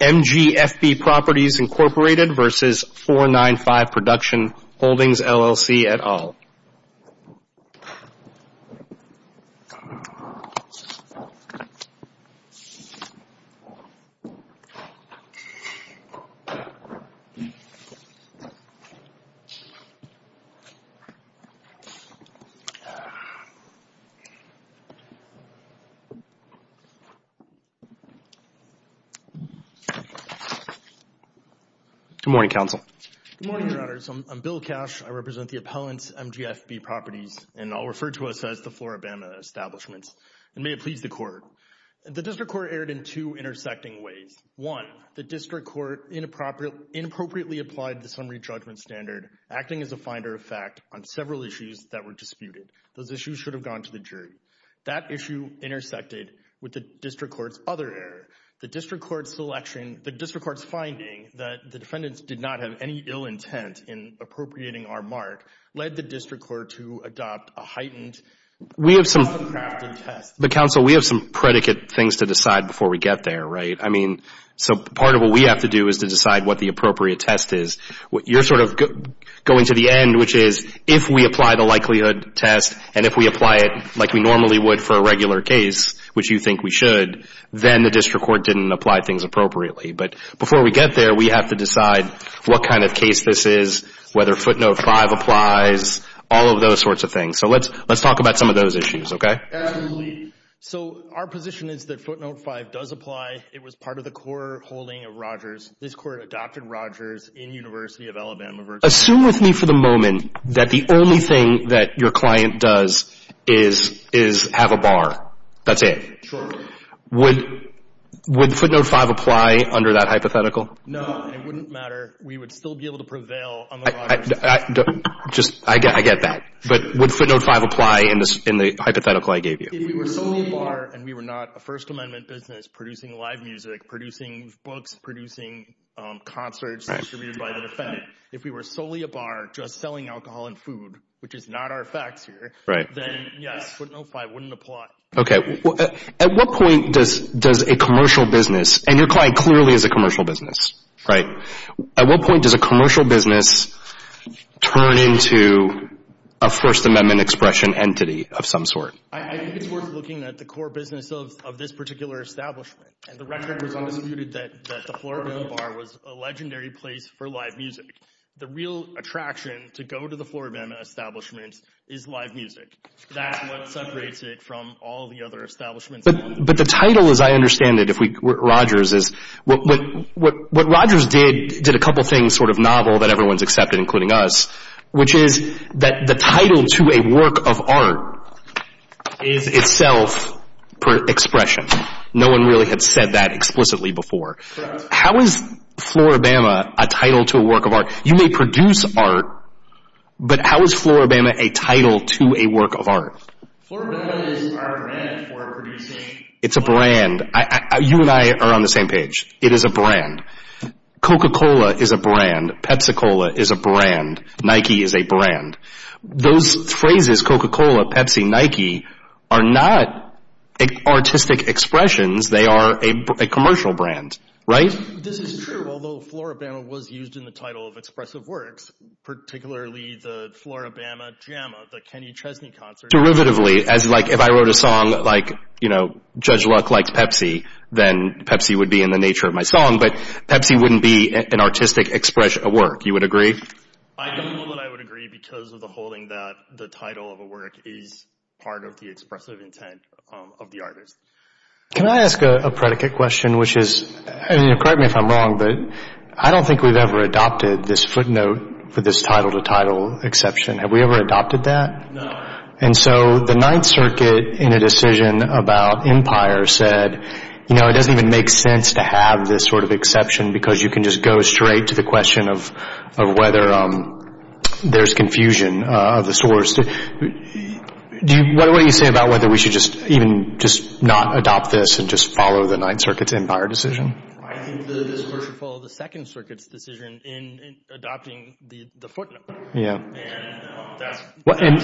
MGFB Properties, Inc. vs. 495 Production Holdings, LLC, et al. Good morning, Your Honors. I'm Bill Cash. I represent the appellant's MGFB Properties and I'll refer to us as the Floribama Establishment. May it please the Court. The District Court erred in two intersecting ways. One, the District Court inappropriately applied the summary judgment standard, acting as a finder of fact on several issues that were disputed. Those issues should have gone to the jury. That issue intersected with the District Court's other error. The District Court's selection, the District Court's finding that the defendants did not have any ill intent in appropriating our mark, led the District Court to adopt a heightened... We have some... ...uncrafted test. But, Counsel, we have some predicate things to decide before we get there, right? I mean, so part of what we have to do is to decide what the appropriate test is. You're sort of going to the end, which is, if we apply the likelihood test and if we apply it like we normally would for a regular case, which you think we should, then the District Court didn't apply things appropriately. But before we get there, we have to decide what kind of case this is, whether footnote 5 applies, all of those sorts of things. So let's talk about some of those issues, okay? Absolutely. So our position is that footnote 5 does apply. It was part of the core holding of Rogers. This Court adopted Rogers in University of Alabama versus... Assume with me for the moment that the only thing that your client does is have a bar. That's it. Sure. Would footnote 5 apply under that hypothetical? No, it wouldn't matter. We would still be able to prevail on the Rogers... I get that. But would footnote 5 apply in the hypothetical I gave you? If we were still a bar and we were not a First Amendment business producing live music, producing books, producing concerts distributed by the fed, if we were solely a bar just selling alcohol and food, which is not our facts here, then yes, footnote 5 wouldn't apply. Okay. At what point does a commercial business, and your client clearly is a commercial business, right? At what point does a commercial business turn into a First Amendment expression entity of some sort? I think it's worth looking at the core business of this particular establishment. And the floor of the bar was a legendary place for live music. The real attraction to go to the floor of an establishment is live music. That's what separates it from all the other establishments. But the title, as I understand it, if we... Rogers is... What Rogers did, did a couple things sort of novel that everyone's accepted, including us, which is that the title to a work of art. How is Floor of Bama a title to a work of art? You may produce art, but how is Floor of Bama a title to a work of art? Floor of Bama is our brand for producing... It's a brand. You and I are on the same page. It is a brand. Coca-Cola is a brand. Pepsi-Cola is a brand. Nike is a brand. Those phrases, Coca-Cola, Pepsi, Nike, are not artistic expressions. They are a commercial brand, right? This is true, although Floor of Bama was used in the title of expressive works, particularly the Floor of Bama jam, the Kenny Chesney concert... Derivatively, as like if I wrote a song like, you know, Judge Luck likes Pepsi, then Pepsi would be in the nature of my song, but Pepsi wouldn't be an artistic expression of work. You would agree? I don't know that I would agree because of the holding that the title of a work is part of the expressive intent of the artist. Can I ask a predicate question, which is, correct me if I'm wrong, but I don't think we've ever adopted this footnote for this title to title exception. Have we ever adopted that? No. And so the Ninth Circuit, in a decision about Empire, said, you know, it doesn't even make sense to have this sort of exception because you can just go straight to the question of whether there's confusion of the source. What do you say about whether we should just even not adopt this and just follow the Ninth Circuit's Empire decision? I think that we should follow the Second Circuit's decision in adopting the footnote. Yeah. And that's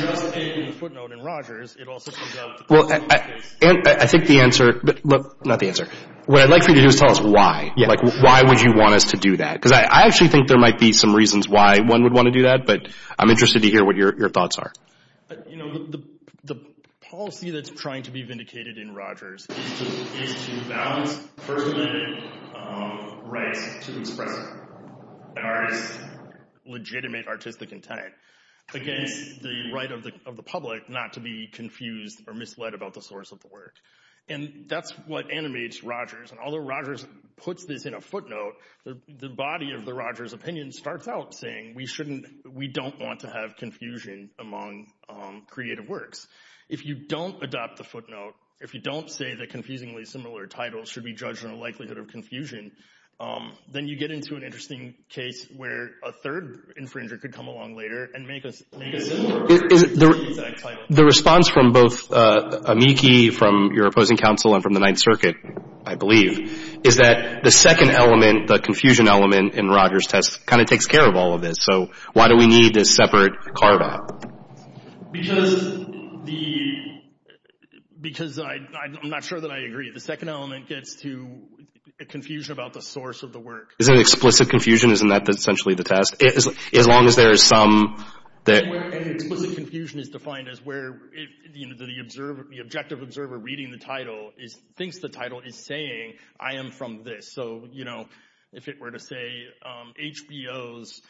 just in the footnote in Rogers, it also comes out of the court case. I think the answer, not the answer, what I'd like for you to do is tell us why. Like, why would you want us to do that? Because I actually think there might be some reasons why one would want to do that, but I'm interested to hear what your thoughts are. You know, the policy that's trying to be vindicated in Rogers is to balance first-amendment rights to express an artist's legitimate artistic intent against the right of the public not to be confused or misled about the source of the work. And that's what animates Rogers. And although Rogers puts this in a footnote, the body of the Rogers opinion starts out saying we shouldn't, we don't want to have confusion among creative works. If you don't adopt the footnote, if you don't say that confusingly similar titles should be judged on the likelihood of confusion, then you get into an interesting case where a third infringer could come along later and make a similar title. The response from both Amiki, from your opposing counsel, and from the Ninth Circuit, I believe, is that the second element, the confusion element in Rogers' test, kind of takes care of all of this. So why do we need this separate carve-out? Because I'm not sure that I agree. The second element gets to a confusion about the source of the work. Isn't it explicit confusion? Isn't that essentially the test? As long as there is some that... An explicit confusion is defined as where the objective observer reading the title thinks the title is saying, I am from this. So, you know, if it were to say HBO's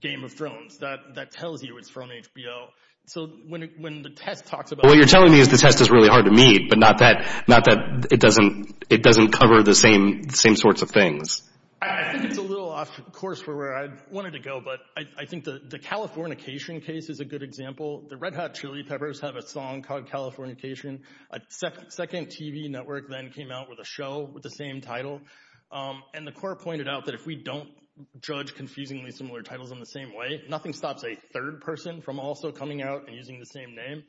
Game of Thrones, that tells you it's from HBO. So when the test talks about... What you're telling me is the test is really hard to meet, but not that it doesn't cover the same sorts of things. I think it's a little off course for where I wanted to go, but I think the Californication case is a good example. The Red Hot Chili Peppers have a song called Californication. A second TV network then came out with a show with the same title. And the court pointed out that if we don't judge confusingly similar titles in the same way, nothing stops a third person from also coming out and using the same name.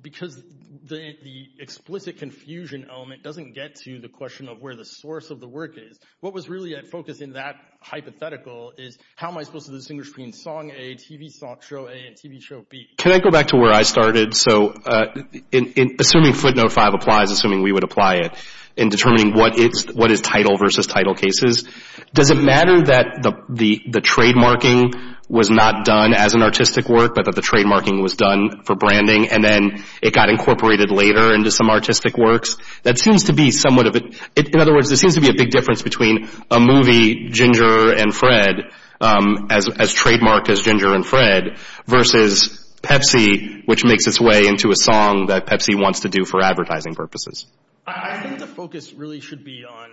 Because the explicit confusion element doesn't get to the question of where the source of the work is. What was really at focus in that hypothetical is how am I supposed to distinguish between song A, TV show A, and TV show B? Can I go back to where I started? So assuming footnote 5 applies, assuming we would apply it, in determining what is title versus title cases, does it matter that the trademarking was not done as an artistic work, but that the trademarking was done for branding, and then it got incorporated later into some artistic works? That seems to be somewhat of a... In other words, there seems to be a big difference between a movie, Ginger and Fred, as trademarked as Ginger and Fred, versus Pepsi, which makes its way into a song that Pepsi wants to do for advertising purposes. I think the focus really should be on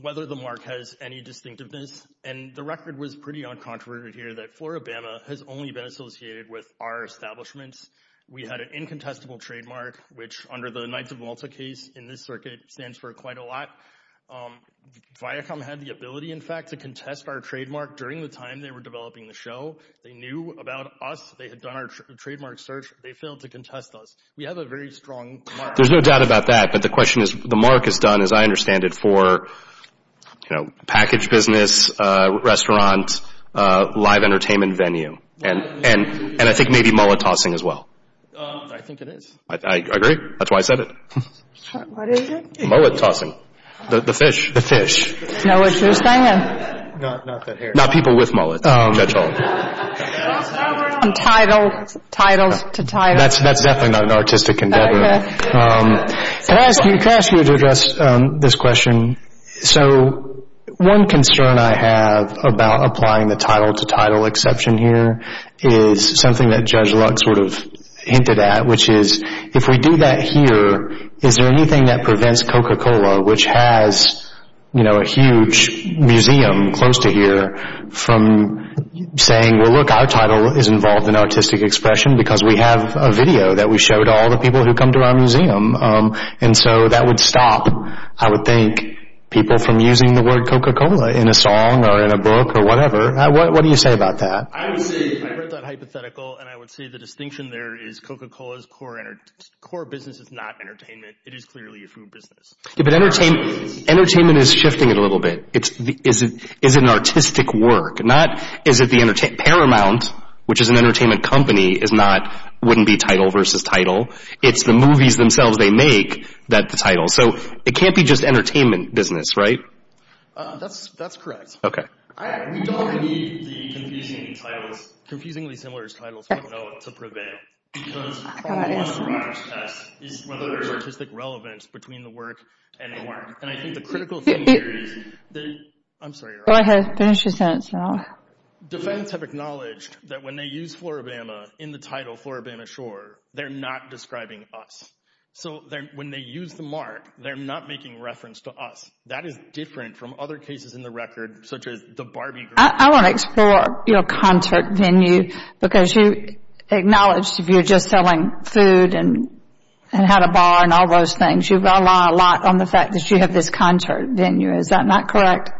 whether the mark has any distinctiveness. And the record was pretty uncontroverted here that Floribama has only been associated with our establishments. We had an incontestable trademark, which under the Knights of Malta case in this circuit stands for quite a lot. Viacom had the ability, in fact, to contest our trademark during the time they were developing the show. They knew about us. They had done our trademark search. They failed to contest us. We have a very strong mark. There's no doubt about that, but the question is, the mark is done, as I understand it, for package business, restaurant, live entertainment venue. And I think maybe mullet tossing as well. I think it is. I agree. That's why I said it. What is it? Mullet tossing. The fish. The fish. Know what you're saying? Not people with mullets, that's all. Title, title to title. That's definitely not an artistic endeavor. Can I ask you to address this question? So one concern I have about applying the title to title exception here is something that Judge Lux sort of hinted at, which is if we do that here, is there anything that prevents Coca-Cola, which has a huge museum close to here, from saying, well, look, our title is involved in artistic expression because we have a video that we show to all the people who come to our museum. And so that would stop, I would think, people from using the word Coca-Cola in a song or in a book or whatever. What do you say about that? I read that hypothetical, and I would say the distinction there is Coca-Cola's core business is not entertainment. It is clearly a food business. Entertainment is shifting it a little bit. Is it an artistic work? Paramount, which is an entertainment company, wouldn't be title versus title. It's the movies themselves they make that the title. So it can't be just entertainment business, right? That's correct. We don't need the confusingly similar titles to prevail. Because all we want on the Rogers test is whether there's artistic relevance between the work and the mark. And I think the critical thing here is that defense have acknowledged that when they use Floribama in the title Floribama Shore, they're not describing us. So when they use the mark, they're not making reference to us. That is different from other cases in the record, such as the Barbie girl. I want to explore your concert venue, because you acknowledged if you're just selling food and had a bar and all those things, you rely a lot on the fact that you have this concert venue. Is that not correct?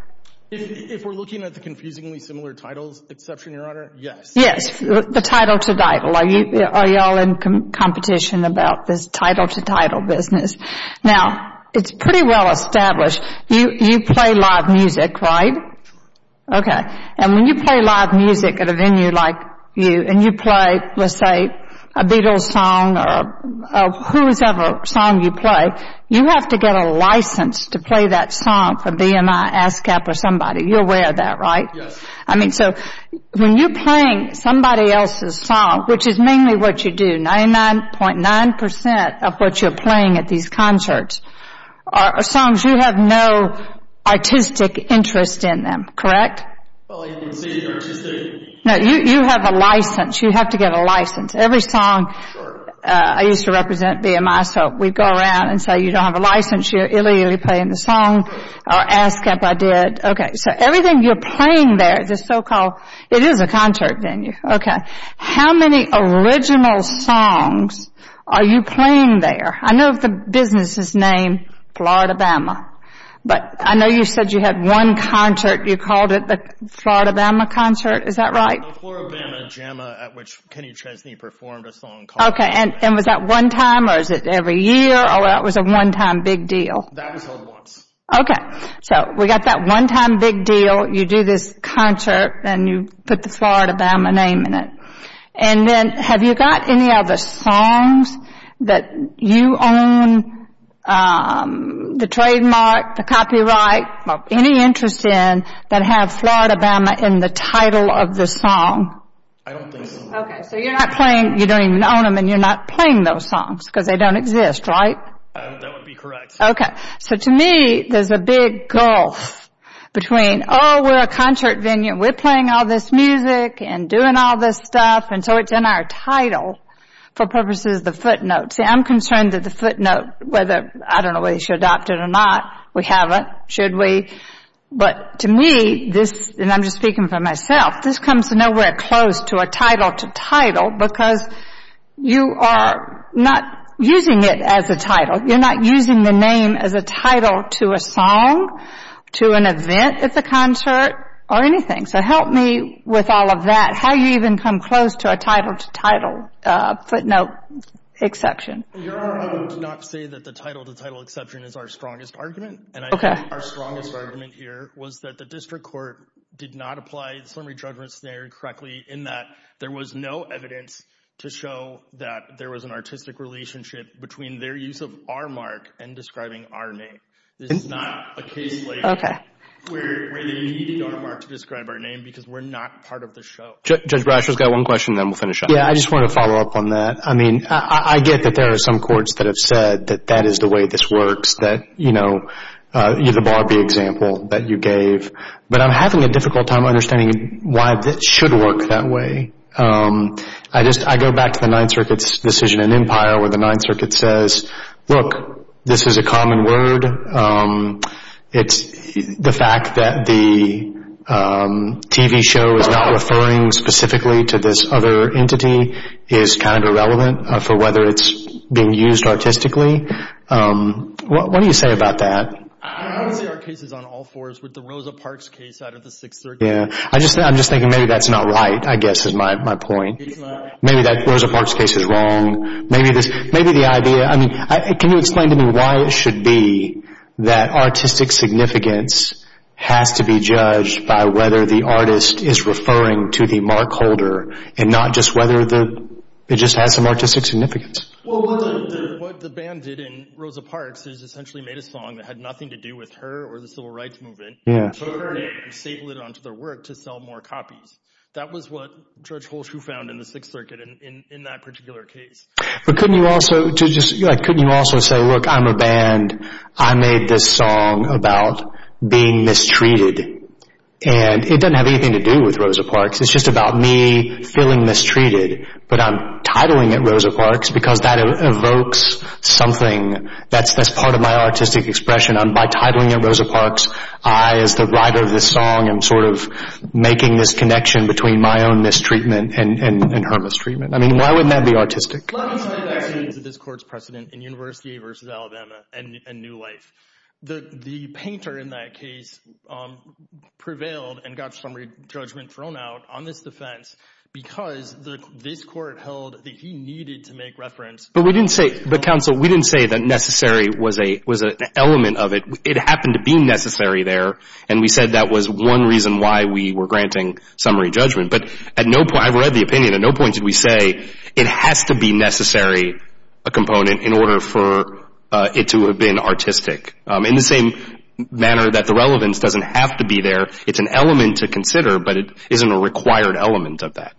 If we're looking at the confusingly similar titles exception, Your Honor, yes. Yes, the title to title. Are you all in competition about this title to title business? Now, it's pretty well established. You play live music, right? Okay. And when you play live music at a venue like you and you play, let's say, a Beatles song or whosoever song you play, you have to get a license to play that song for BMI, ASCAP or somebody. You're aware of that, right? Yes. I mean, so when you're playing somebody else's song, which is mainly what you do, 99.9% of what you're playing at these concerts are songs you have no artistic interest in them, correct? Well, you can see the artistry. No, you have a license. You have to get a license. Every song I used to represent BMI, so we'd go around and say, you don't have a license, you're illegally playing the song, or ASCAP I did. Okay, so everything you're playing there, the so-called, it is a concert venue, okay. How many original songs are you playing there? I know the business is named Florida Bama, but I know you said you had one concert, you called it the Florida Bama Concert, is that right? The Florida Bama Jamma at which Kenny Chesney performed a song called... Okay, and was that one time or is it every year or that was a one-time big deal? That was held once. Okay, so we got that one-time big deal, you do this concert and you put the Florida Bama name in it. And then have you got any other songs that you own the trademark, the copyright, or any interest in that have Florida Bama in the title of the song? I don't think so. Okay, so you're not playing, you don't even own them and you're not playing those songs, because they don't exist, right? That would be correct. Okay, so to me there's a big gulf between, oh, we're a concert venue, we're playing all this music and doing all this stuff and so it's in our title for purposes of the footnote. See, I'm concerned that the footnote, whether, I don't know whether you should adopt it or not, we have it, should we, but to me this, and I'm just speaking for myself, this comes nowhere close to a title to title because you are not using it as a title, you're not using the name as a title to a song, to an event at the concert, or anything. So help me with all of that. How do you even come close to a title to title footnote exception? Your Honor, I would not say that the title to title exception is our strongest argument. Okay. And I think our strongest argument here was that the district court did not apply the summary judgment scenario correctly in that there was no evidence to show that there was an artistic relationship between their use of our mark and describing our name. This is not a case like where they needed our mark to describe our name because we're not part of the show. Judge Brasher's got one question, then we'll finish up. Yeah, I just wanted to follow up on that. I mean, I get that there are some courts that have said that that is the way this works, that, you know, the Barbie example that you gave, but I'm having a difficult time understanding why that should work that way. I go back to the Ninth Circuit's decision in Empire where the Ninth Circuit says, look, this is a common word. The fact that the TV show is not referring specifically to this other entity is kind of irrelevant for whether it's being used artistically. What do you say about that? I don't see our cases on all fours with the Rosa Parks case out of the Sixth Circuit. Yeah, I'm just thinking maybe that's not right, I guess, is my point. Maybe that Rosa Parks case is wrong. Maybe the idea, I mean, can you explain to me why it should be that artistic significance has to be judged by whether the artist is referring to the mark holder and not just whether it just has some artistic significance? Well, what the band did in Rosa Parks is essentially made a song that had nothing to do with her or the Civil Rights Movement, put her name and staple it onto their work to sell more copies. That was what George Holshue found in the Sixth Circuit in that particular case. But couldn't you also say, look, I'm a band. I made this song about being mistreated, and it doesn't have anything to do with Rosa Parks. It's just about me feeling mistreated, but I'm titling it Rosa Parks because that evokes something. That's part of my artistic expression. By titling it Rosa Parks, I, as the writer of this song, am sort of making this connection between my own mistreatment and her mistreatment. I mean, why wouldn't that be artistic? Let me say that this court's precedent in University v. Alabama and New Life. The painter in that case prevailed and got summary judgment thrown out on this defense because this court held that he needed to make reference. But we didn't say, the counsel, we didn't say that necessary was an element of it. It happened to be necessary there, and we said that was one reason why we were granting summary judgment. But I've read the opinion. At no point did we say it has to be necessary, a component, in order for it to have been artistic. In the same manner that the relevance doesn't have to be there. It's an element to consider, but it isn't a required element of that.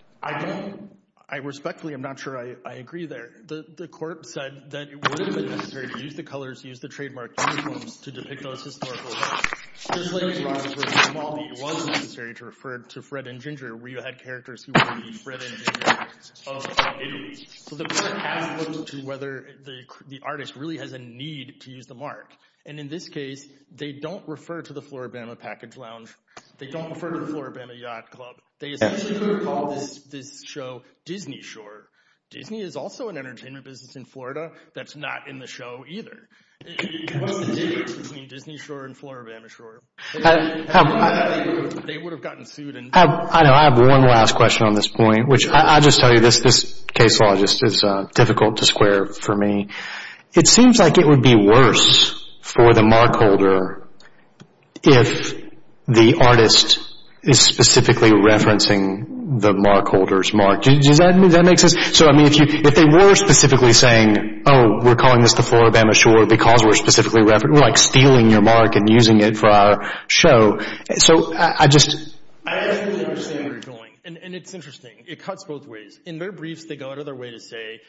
I respectfully, I'm not sure I agree there. The court said that it wouldn't have been necessary to use the colors, use the trademark uniforms to depict those historical events. Just like it was necessary to refer to Fred and Ginger, where you had characters who were the Fred and Ginger of Italy. So the court has looked to whether the artist really has a need to use the mark. And in this case, they don't refer to the Floribama Package Lounge. They don't refer to the Floribama Yacht Club. They essentially would have called this show Disney Shore. Disney is also an entertainment business in Florida that's not in the show either. What was the difference between Disney Shore and Floribama Shore? They would have gotten sued. I have one last question on this point, which I'll just tell you this case law is difficult to square for me. It seems like it would be worse for the mark holder if the artist is specifically referencing the mark holder's mark. Does that make sense? So, I mean, if they were specifically saying, oh, we're calling this the Floribama Shore because we're specifically referencing, we're like stealing your mark and using it for our show. So I just... I understand where you're going. And it's interesting. It cuts both ways. In their briefs, they go out of their way to say,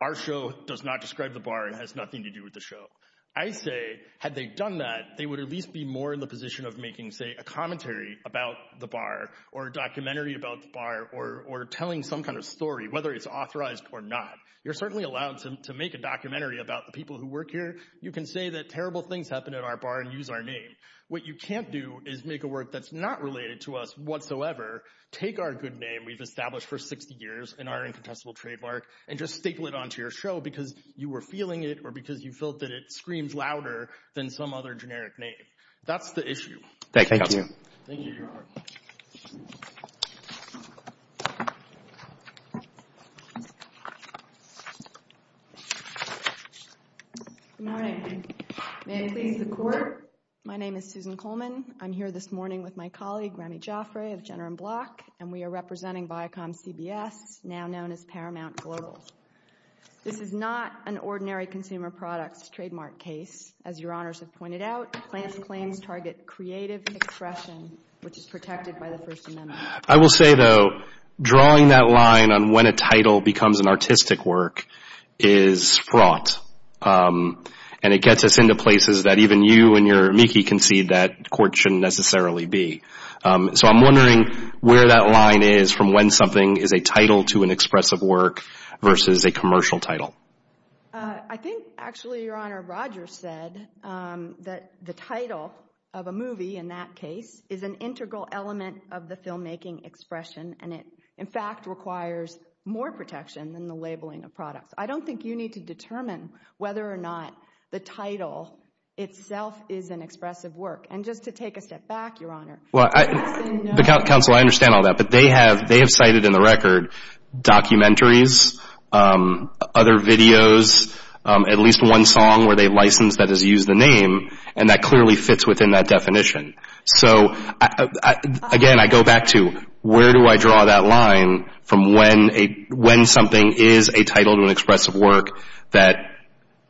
our show does not describe the bar and has nothing to do with the show. I say, had they done that, they would at least be more in the position of making, say, a commentary about the bar or a documentary about the bar or telling some kind of story, whether it's authorized or not. You're certainly allowed to make a documentary about the people who work here. You can say that terrible things happened at our bar and use our name. What you can't do is make a work that's not related to us whatsoever, take our good name we've established for 60 years and our incontestable trademark and just staple it onto your show because you were feeling it or because you felt that it screams louder than some other generic name. That's the issue. Thank you. Thank you. Good morning. May it please the court. My name is Susan Coleman. I'm here this morning with my colleague, Rami Jaffray of Jenner & Block, and we are representing ViacomCBS, now known as Paramount Global. This is not an ordinary consumer products trademark case. As your honors have pointed out, plans and claims target creative expression, which is protected by the First Amendment. I will say, though, drawing that line on when a title becomes an artistic work is fraught, and it gets us into places that even you and your amici can see that courts shouldn't necessarily be. So I'm wondering where that line is from when something is a title to an expressive work versus a commercial title. I think, actually, Your Honor, Roger said that the title of a movie in that case is an integral element of the filmmaking expression, and it, in fact, requires more protection than the labeling of products. I don't think you need to determine whether or not the title itself is an expressive work. And just to take a step back, Your Honor. Counsel, I understand all that. But they have cited in the record documentaries, other videos, at least one song where they license that has used the name, and that clearly fits within that definition. So, again, I go back to where do I draw that line from when something is a title to an expressive work that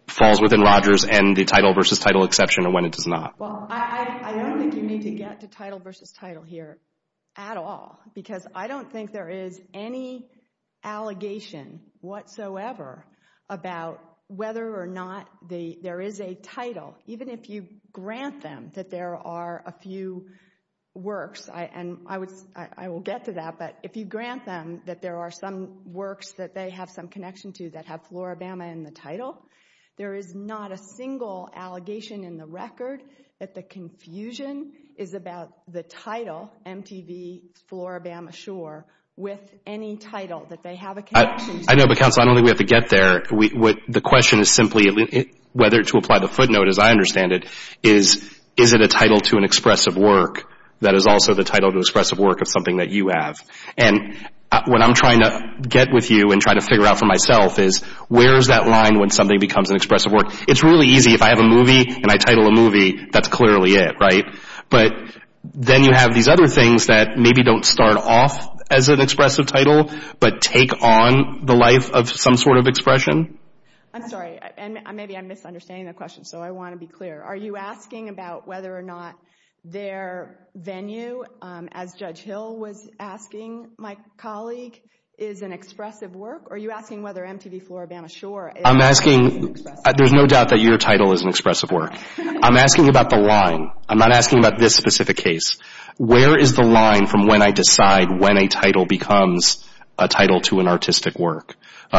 falls within Roger's and the title versus title exception and when it does not. Well, I don't think you need to get to title versus title here at all because I don't think there is any allegation whatsoever about whether or not there is a title, even if you grant them that there are a few works. And I will get to that. But if you grant them that there are some works that they have some connection to that have Floribama in the title, there is not a single allegation in the record that the confusion is about the title, MTV, Floribama Shore, with any title that they have a connection to. I know, but, Counsel, I don't think we have to get there. The question is simply whether to apply the footnote, as I understand it, is it a title to an expressive work that is also the title to expressive work of something that you have? And what I'm trying to get with you and trying to figure out for myself is where is that line when something becomes an expressive work? It's really easy. If I have a movie and I title a movie, that's clearly it, right? But then you have these other things that maybe don't start off as an expressive title but take on the life of some sort of expression. I'm sorry. And maybe I'm misunderstanding the question, so I want to be clear. Are you asking about whether or not their venue, as Judge Hill was asking, my colleague, is an expressive work? Or are you asking whether MTV, Floribama Shore is an expressive work? I'm asking. There's no doubt that your title is an expressive work. I'm asking about the line. I'm not asking about this specific case. Where is the line from when I decide when a title becomes a title to an artistic work?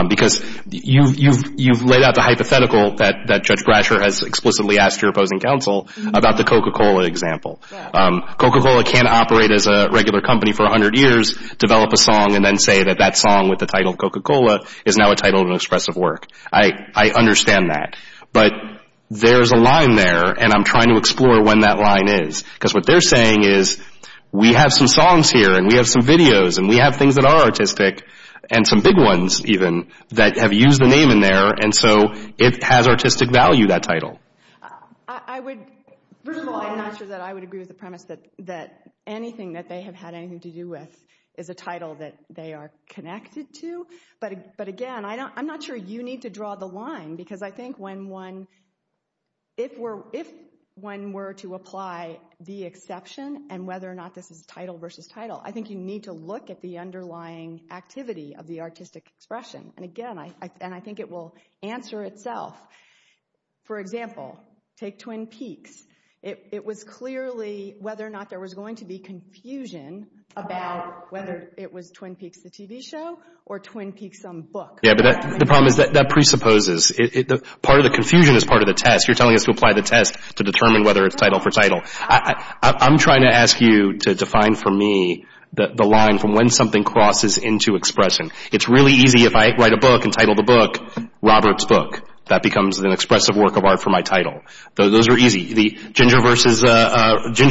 Because you've laid out the hypothetical that Judge Brasher has explicitly asked your opposing counsel about the Coca-Cola example. Coca-Cola can't operate as a regular company for 100 years, develop a song, and then say that that song with the title Coca-Cola is now a title of an expressive work. I understand that. But there's a line there, and I'm trying to explore when that line is. Because what they're saying is we have some songs here, and we have some videos, and we have things that are artistic, and some big ones, even, that have used the name in there, and so it has artistic value, that title. First of all, I'm not sure that I would agree with the premise that anything that they have had anything to do with is a title that they are connected to. But, again, I'm not sure you need to draw the line. Because I think if one were to apply the exception and whether or not this is title versus title, I think you need to look at the underlying activity of the artistic expression. And, again, I think it will answer itself. For example, take Twin Peaks. It was clearly whether or not there was going to be confusion about whether it was Twin Peaks, the TV show, or Twin Peaks, some book. Yeah, but the problem is that presupposes. Part of the confusion is part of the test. You're telling us to apply the test to determine whether it's title for title. I'm trying to ask you to define for me the line from when something crosses into expression. It's really easy if I write a book and title the book Robert's Book. That becomes an expressive work of art for my title. Those are easy. Ginger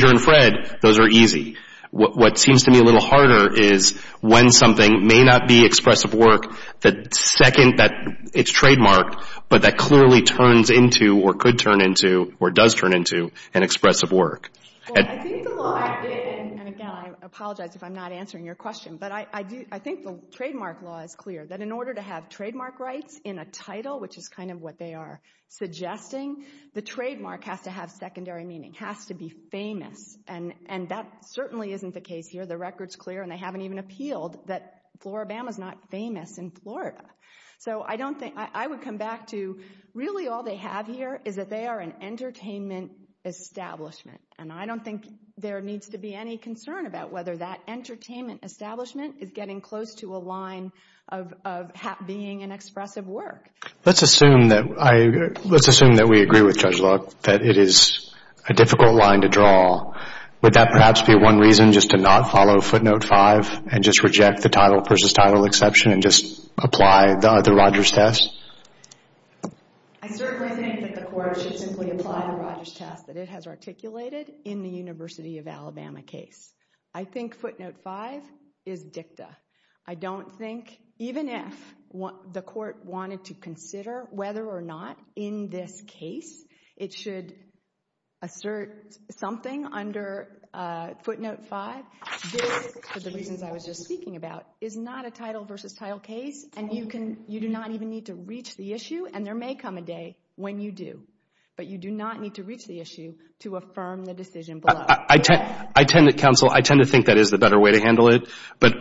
and Fred, those are easy. What seems to me a little harder is when something may not be expressive work, the second that it's trademarked, but that clearly turns into or could turn into or does turn into an expressive work. I think the law has been, and, again, I apologize if I'm not answering your question, but I think the trademark law is clear, that in order to have trademark rights in a title, which is kind of what they are suggesting, the trademark has to have secondary meaning, has to be famous. That certainly isn't the case here. The record's clear, and they haven't even appealed that Floribama's not famous in Florida. I would come back to really all they have here is that they are an entertainment establishment. I don't think there needs to be any concern about whether that entertainment establishment is getting close to a line of being an expressive work. Let's assume that we agree with Judge Luck that it is a difficult line to draw. Would that perhaps be one reason just to not follow footnote 5 and just reject the title versus title exception and just apply the Rogers test? I certainly think that the court should simply apply the Rogers test that it has articulated in the University of Alabama case. I think footnote 5 is dicta. I don't think, even if the court wanted to consider whether or not in this case it should assert something under footnote 5, this, for the reasons I was just speaking about, is not a title versus title case, and you do not even need to reach the issue, and there may come a day when you do, but you do not need to reach the issue to affirm the decision below. Counsel, I tend to think that is the better way to handle it, but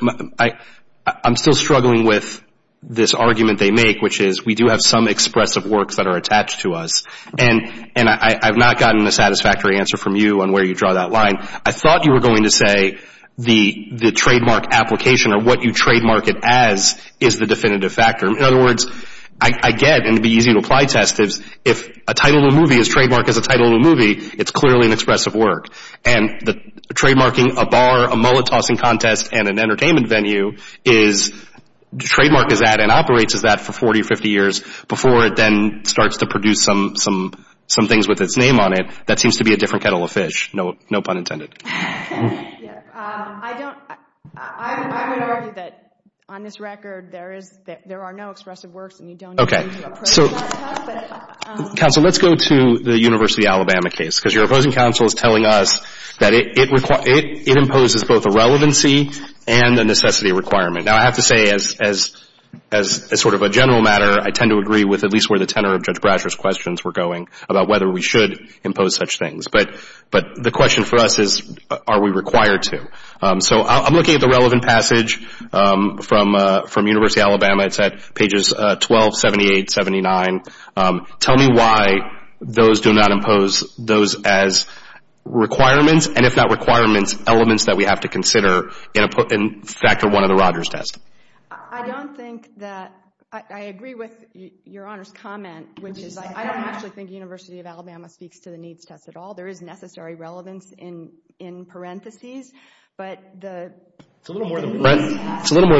I'm still struggling with this argument they make, which is we do have some expressive works that are attached to us, and I've not gotten a satisfactory answer from you on where you draw that line. I thought you were going to say the trademark application or what you trademark it as is the definitive factor. In other words, I get, and it would be easy to apply test, if a title of a movie is trademarked as a title of a movie, it's clearly an expressive work, and trademarking a bar, a mullet tossing contest, and an entertainment venue is, trademarked as that and operates as that for 40 or 50 years before it then starts to produce some things with its name on it. That seems to be a different kettle of fish, no pun intended. I'm going to argue that on this record there are no expressive works, Counsel, let's go to the University of Alabama case, because your opposing counsel is telling us that it imposes both a relevancy and a necessity requirement. Now, I have to say, as sort of a general matter, I tend to agree with at least where the tenor of Judge Brasher's questions were going about whether we should impose such things. But the question for us is, are we required to? So I'm looking at the relevant passage from University of Alabama. It's at pages 12, 78, 79. Tell me why those do not impose those as requirements, and if not requirements, elements that we have to consider in factor one of the Rogers test. I don't think that, I agree with your Honor's comment, which is I don't actually think University of Alabama speaks to the needs test at all. There is necessary relevance in parentheses. It's a little more than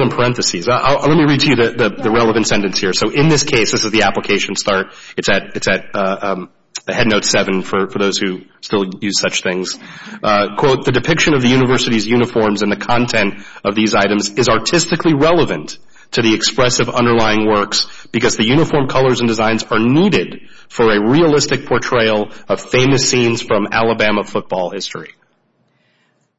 parentheses. Let me read to you the relevant sentence here. So in this case, this is the application start. It's at head note seven for those who still use such things. Quote, the depiction of the university's uniforms and the content of these items is artistically relevant to the expressive underlying works because the uniform colors and designs are needed for a realistic portrayal of famous scenes from Alabama football history.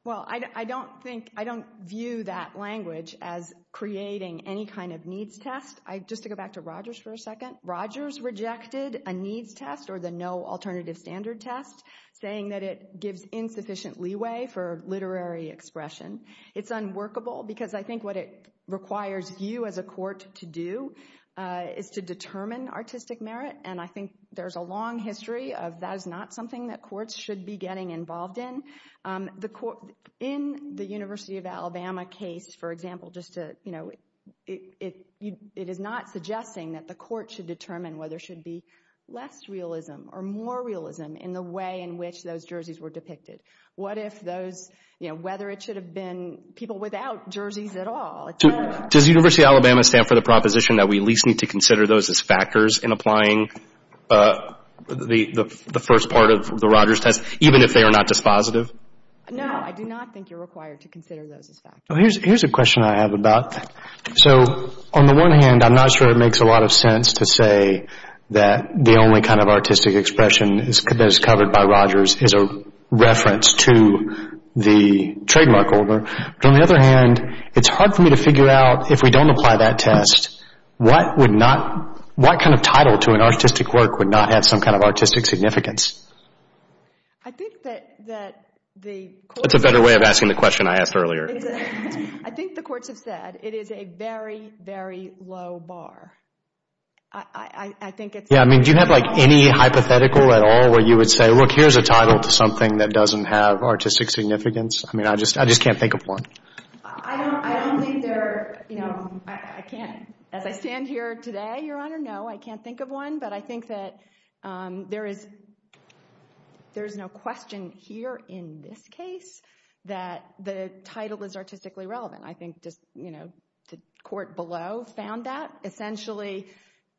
Well, I don't think, I don't view that language as creating any kind of needs test. Just to go back to Rogers for a second, Rogers rejected a needs test or the no alternative standard test, saying that it gives insufficient leeway for literary expression. It's unworkable because I think what it requires you as a court to do is to determine artistic merit, and I think there's a long history of that is not something that courts should be getting involved in. In the University of Alabama case, for example, just to, you know, it is not suggesting that the court should determine whether there should be less realism or more realism in the way in which those jerseys were depicted. What if those, you know, whether it should have been people without jerseys at all? Does the University of Alabama stand for the proposition that we at least need to consider those as factors in applying the first part of the Rogers test, even if they are not dispositive? No, I do not think you're required to consider those as factors. Here's a question I have about, so on the one hand, I'm not sure it makes a lot of sense to say that the only kind of artistic expression that is covered by Rogers is a reference to the trademark holder, but on the other hand, it's hard for me to figure out if we don't apply that test, what would not, what kind of title to an artistic work would not have some kind of artistic significance? I think that the courts... That's a better way of asking the question I asked earlier. I think the courts have said it is a very, very low bar. I think it's... Yeah, I mean, do you have like any hypothetical at all where you would say, look, here's a title to something that doesn't have artistic significance? I mean, I just can't think of one. I don't think there, you know, I can't, as I stand here today, Your Honor, no, I can't think of one, but I think that there is no question here in this case that the title is artistically relevant. I think just, you know, the court below found that essentially.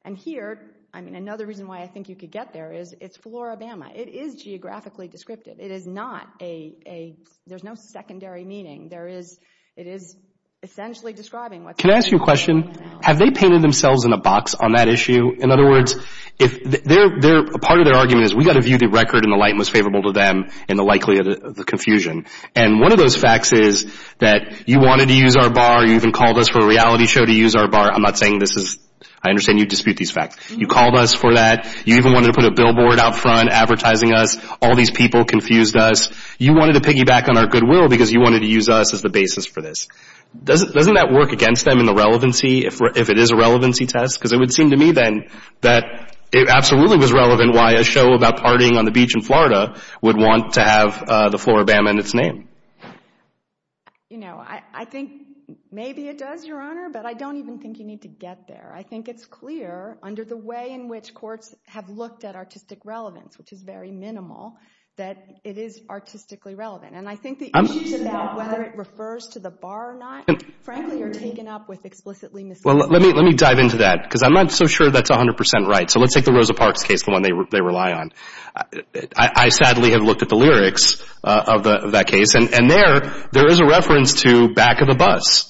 And here, I mean, another reason why I think you could get there is it's Floribama. It is geographically descriptive. It is not a, there's no secondary meaning. There is, it is essentially describing what's going on. Can I ask you a question? Have they painted themselves in a box on that issue? In other words, part of their argument is we've got to view the record in the light most favorable to them and the likelihood of the confusion. And one of those facts is that you wanted to use our bar. You even called us for a reality show to use our bar. I'm not saying this is, I understand you dispute these facts. You called us for that. You even wanted to put a billboard out front advertising us. All these people confused us. You wanted to piggyback on our goodwill because you wanted to use us as the basis for this. Doesn't that work against them in the relevancy if it is a relevancy test? Because it would seem to me then that it absolutely was relevant why a show about partying on the beach in Florida would want to have the floor of Bama in its name. You know, I think maybe it does, Your Honor, but I don't even think you need to get there. I think it's clear under the way in which courts have looked at artistic relevance, which is very minimal, that it is artistically relevant. And I think the issues about whether it refers to the bar or not, frankly, are taken up with explicitly misleading evidence. Well, let me dive into that because I'm not so sure that's 100% right. So let's take the Rosa Parks case, the one they rely on. I sadly have looked at the lyrics of that case, and there is a reference to back of the bus.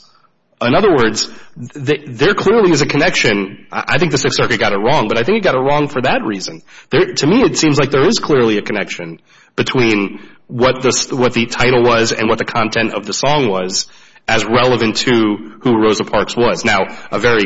In other words, there clearly is a connection. I think the Sixth Circuit got it wrong, but I think it got it wrong for that reason. To me, it seems like there is clearly a connection between what the title was and what the content of the song was as relevant to who Rosa Parks was. Now, a very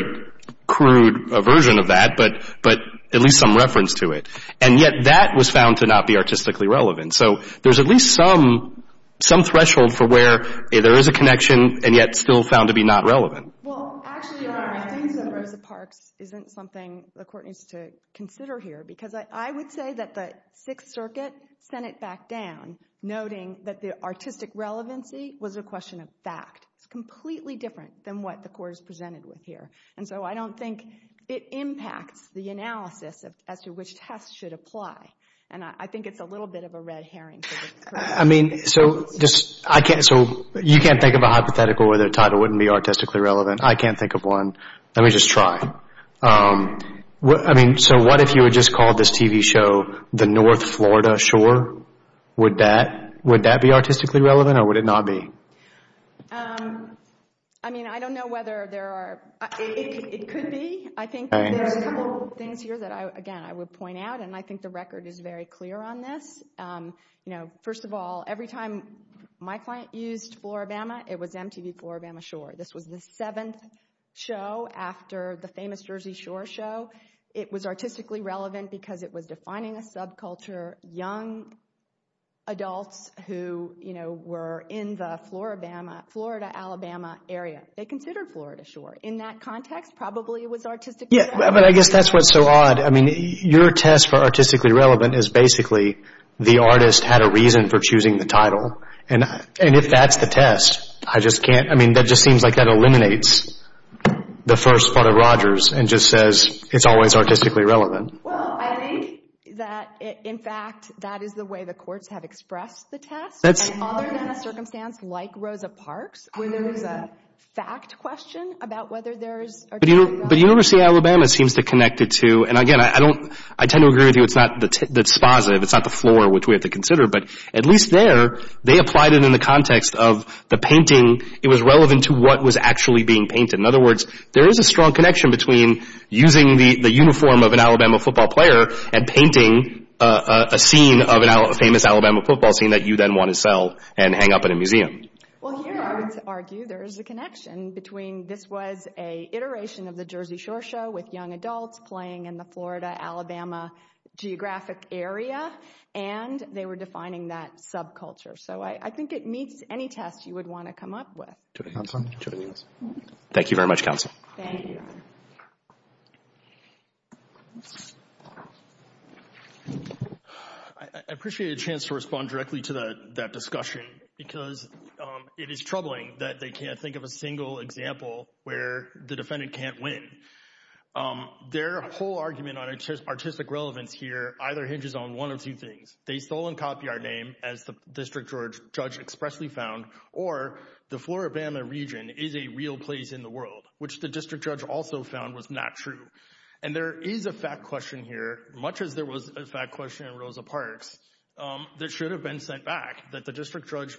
crude version of that, but at least some reference to it. And yet that was found to not be artistically relevant. So there's at least some threshold for where there is a connection and yet still found to be not relevant. Well, actually, I think that Rosa Parks isn't something the Court needs to consider here because I would say that the Sixth Circuit sent it back down, noting that the artistic relevancy was a question of fact. It's completely different than what the Court has presented with here. And so I don't think it impacts the analysis as to which test should apply. And I think it's a little bit of a red herring. So you can't think of a hypothetical where the title wouldn't be artistically relevant. I can't think of one. Let me just try. So what if you had just called this TV show The North Florida Shore? Would that be artistically relevant or would it not be? I mean, I don't know whether there are—it could be. I think there are a couple of things here that, again, I would point out, and I think the record is very clear on this. First of all, every time my client used Floribama, it was MTV Floribama Shore. This was the seventh show after the famous Jersey Shore show. It was artistically relevant because it was defining a subculture, young adults who were in the Florida, Alabama area. They considered Florida Shore. In that context, probably it was artistically relevant. Yeah, but I guess that's what's so odd. I mean, your test for artistically relevant is basically the artist had a reason for choosing the title. And if that's the test, I just can't—I mean, that just seems like that eliminates the first part of Rogers and just says it's always artistically relevant. Well, I think that, in fact, that is the way the courts have expressed the test. That's— Other than a circumstance like Rosa Parks, where there was a fact question about whether there is artistically relevant. But University of Alabama seems to connect it to—and, again, I don't—I tend to agree with you. It's not the—that's positive. It's not the floor, which we have to consider. But at least there, they applied it in the context of the painting. It was relevant to what was actually being painted. In other words, there is a strong connection between using the uniform of an Alabama football player and painting a scene of a famous Alabama football scene that you then want to sell and hang up in a museum. Well, here, I would argue there is a connection between this was an iteration of the Jersey Shore show with young adults playing in the Florida-Alabama geographic area. And they were defining that subculture. So I think it meets any test you would want to come up with. Thank you very much, Counsel. Thank you. I appreciate a chance to respond directly to that discussion because it is troubling that they can't think of a single example where the defendant can't win. Their whole argument on artistic relevance here either hinges on one or two things. They stole and copy our name, as the district judge expressly found, or the Florida-Alabama region is a real place in the world, which the district judge also found was not true. And there is a fact question here, much as there was a fact question in Rosa Parks, that should have been sent back that the district judge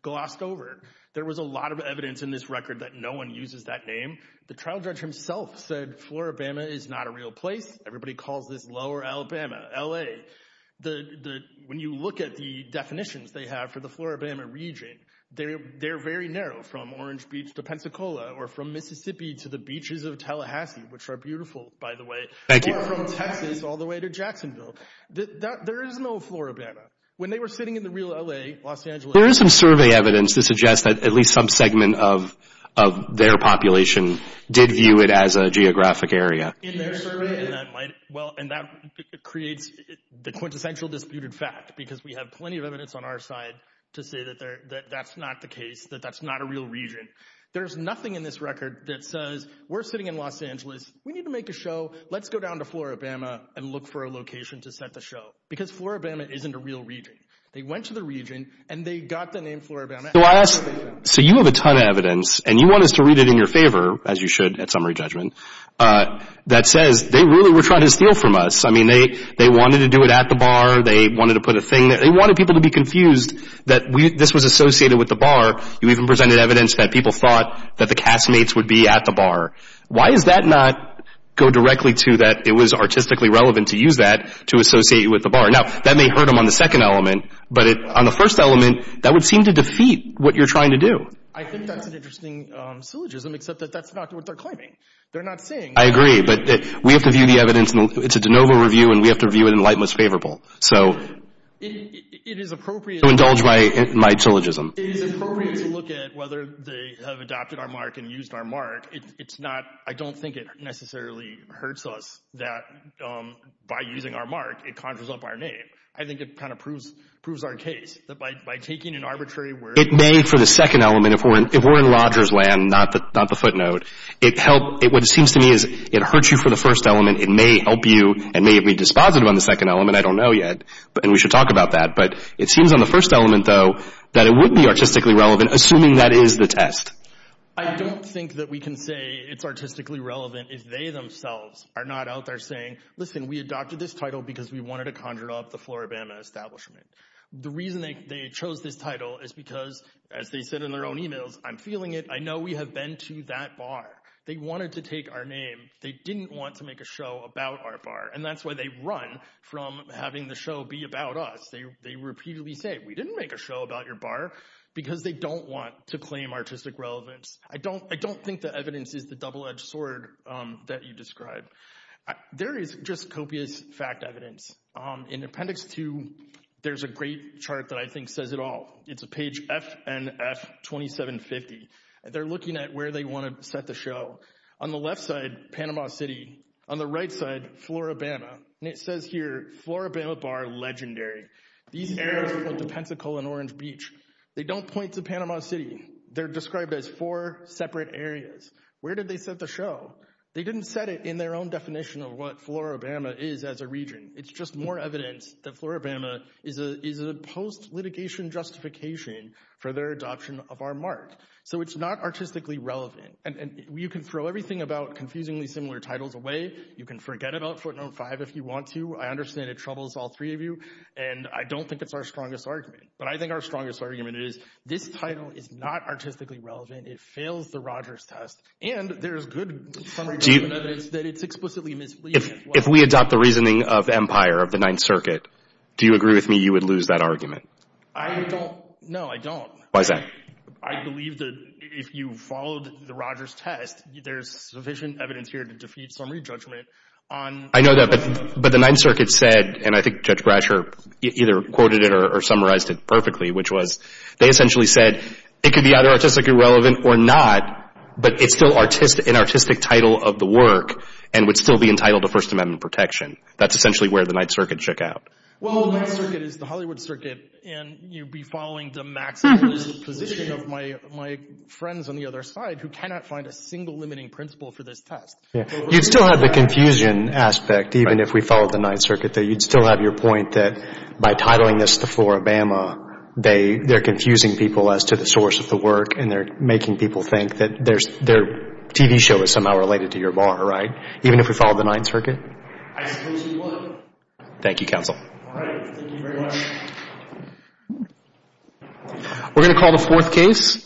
glossed over. There was a lot of evidence in this record that no one uses that name. The trial judge himself said Florida-Alabama is not a real place. Everybody calls this Lower Alabama, L.A. When you look at the definitions they have for the Florida-Alabama region, they're very narrow from Orange Beach to Pensacola or from Mississippi to the beaches of Tallahassee, which are beautiful, by the way, or from Texas all the way to Jacksonville. There is no Florida-Alabama. When they were sitting in the real L.A., Los Angeles— There is some survey evidence that suggests that at least some segment of their population did view it as a geographic area. And that creates the quintessential disputed fact because we have plenty of evidence on our side to say that that's not the case, that that's not a real region. There's nothing in this record that says we're sitting in Los Angeles. We need to make a show. Let's go down to Florida-Alabama and look for a location to set the show because Florida-Alabama isn't a real region. They went to the region, and they got the name Florida-Alabama. So you have a ton of evidence, and you want us to read it in your favor, as you should at summary judgment, that says they really were trying to steal from us. I mean, they wanted to do it at the bar. They wanted to put a thing there. They wanted people to be confused that this was associated with the bar. You even presented evidence that people thought that the castmates would be at the bar. Why does that not go directly to that it was artistically relevant to use that to associate with the bar? Now, that may hurt them on the second element, but on the first element, that would seem to defeat what you're trying to do. I think that's an interesting syllogism, except that that's not what they're claiming. They're not saying. I agree, but we have to view the evidence. It's a de novo review, and we have to view it in light that's favorable. So it is appropriate to indulge my syllogism. It is appropriate to look at whether they have adopted our mark and used our mark. I don't think it necessarily hurts us that by using our mark, it conjures up our name. I think it kind of proves our case. It may, for the second element, if we're in lodger's land, not the footnote. What it seems to me is it hurts you for the first element. It may help you and may be dispositive on the second element. I don't know yet, and we should talk about that. But it seems on the first element, though, that it would be artistically relevant, assuming that is the test. I don't think that we can say it's artistically relevant if they themselves are not out there saying, listen, we adopted this title because we wanted to conjure up the Floribama establishment. The reason they chose this title is because, as they said in their own emails, I'm feeling it. I know we have been to that bar. They wanted to take our name. They didn't want to make a show about our bar, and that's why they run from having the show be about us. They repeatedly say, we didn't make a show about your bar, because they don't want to claim artistic relevance. I don't think the evidence is the double-edged sword that you described. There is just copious fact evidence. In Appendix 2, there's a great chart that I think says it all. It's page FNF 2750. They're looking at where they want to set the show. On the left side, Panama City. On the right side, Floribama. It says here, Floribama Bar Legendary. These arrows point to Pensacola and Orange Beach. They don't point to Panama City. They're described as four separate areas. Where did they set the show? They didn't set it in their own definition of what Floribama is as a region. It's just more evidence that Floribama is a post-litigation justification for their adoption of our mark. So it's not artistically relevant. You can throw everything about confusingly similar titles away. You can forget about Footnote 5 if you want to. I understand it troubles all three of you, and I don't think it's our strongest argument. But I think our strongest argument is, this title is not artistically relevant. It fails the Rogers test, and there's good evidence that it's explicitly misleading. If we adopt the reasoning of Empire, of the Ninth Circuit, do you agree with me you would lose that argument? I don't. No, I don't. Why is that? I believe that if you followed the Rogers test, there's sufficient evidence here to defeat summary judgment. I know that, but the Ninth Circuit said, and I think Judge Brasher either quoted it or summarized it perfectly, which was they essentially said it could be either artistically relevant or not, but it's still an artistic title of the work and would still be entitled to First Amendment protection. That's essentially where the Ninth Circuit shook out. Well, the Ninth Circuit is the Hollywood Circuit, and you'd be following the maximalist position of my friends on the other side who cannot find a single limiting principle for this test. You'd still have the confusion aspect, even if we followed the Ninth Circuit, that you'd still have your point that by titling this the floor of Bama, they're confusing people as to the source of the work, and they're making people think that their TV show is somehow related to your bar, right? Even if we followed the Ninth Circuit? I suppose you would. Thank you, Counsel. All right. Thank you very much. We're going to call the fourth case.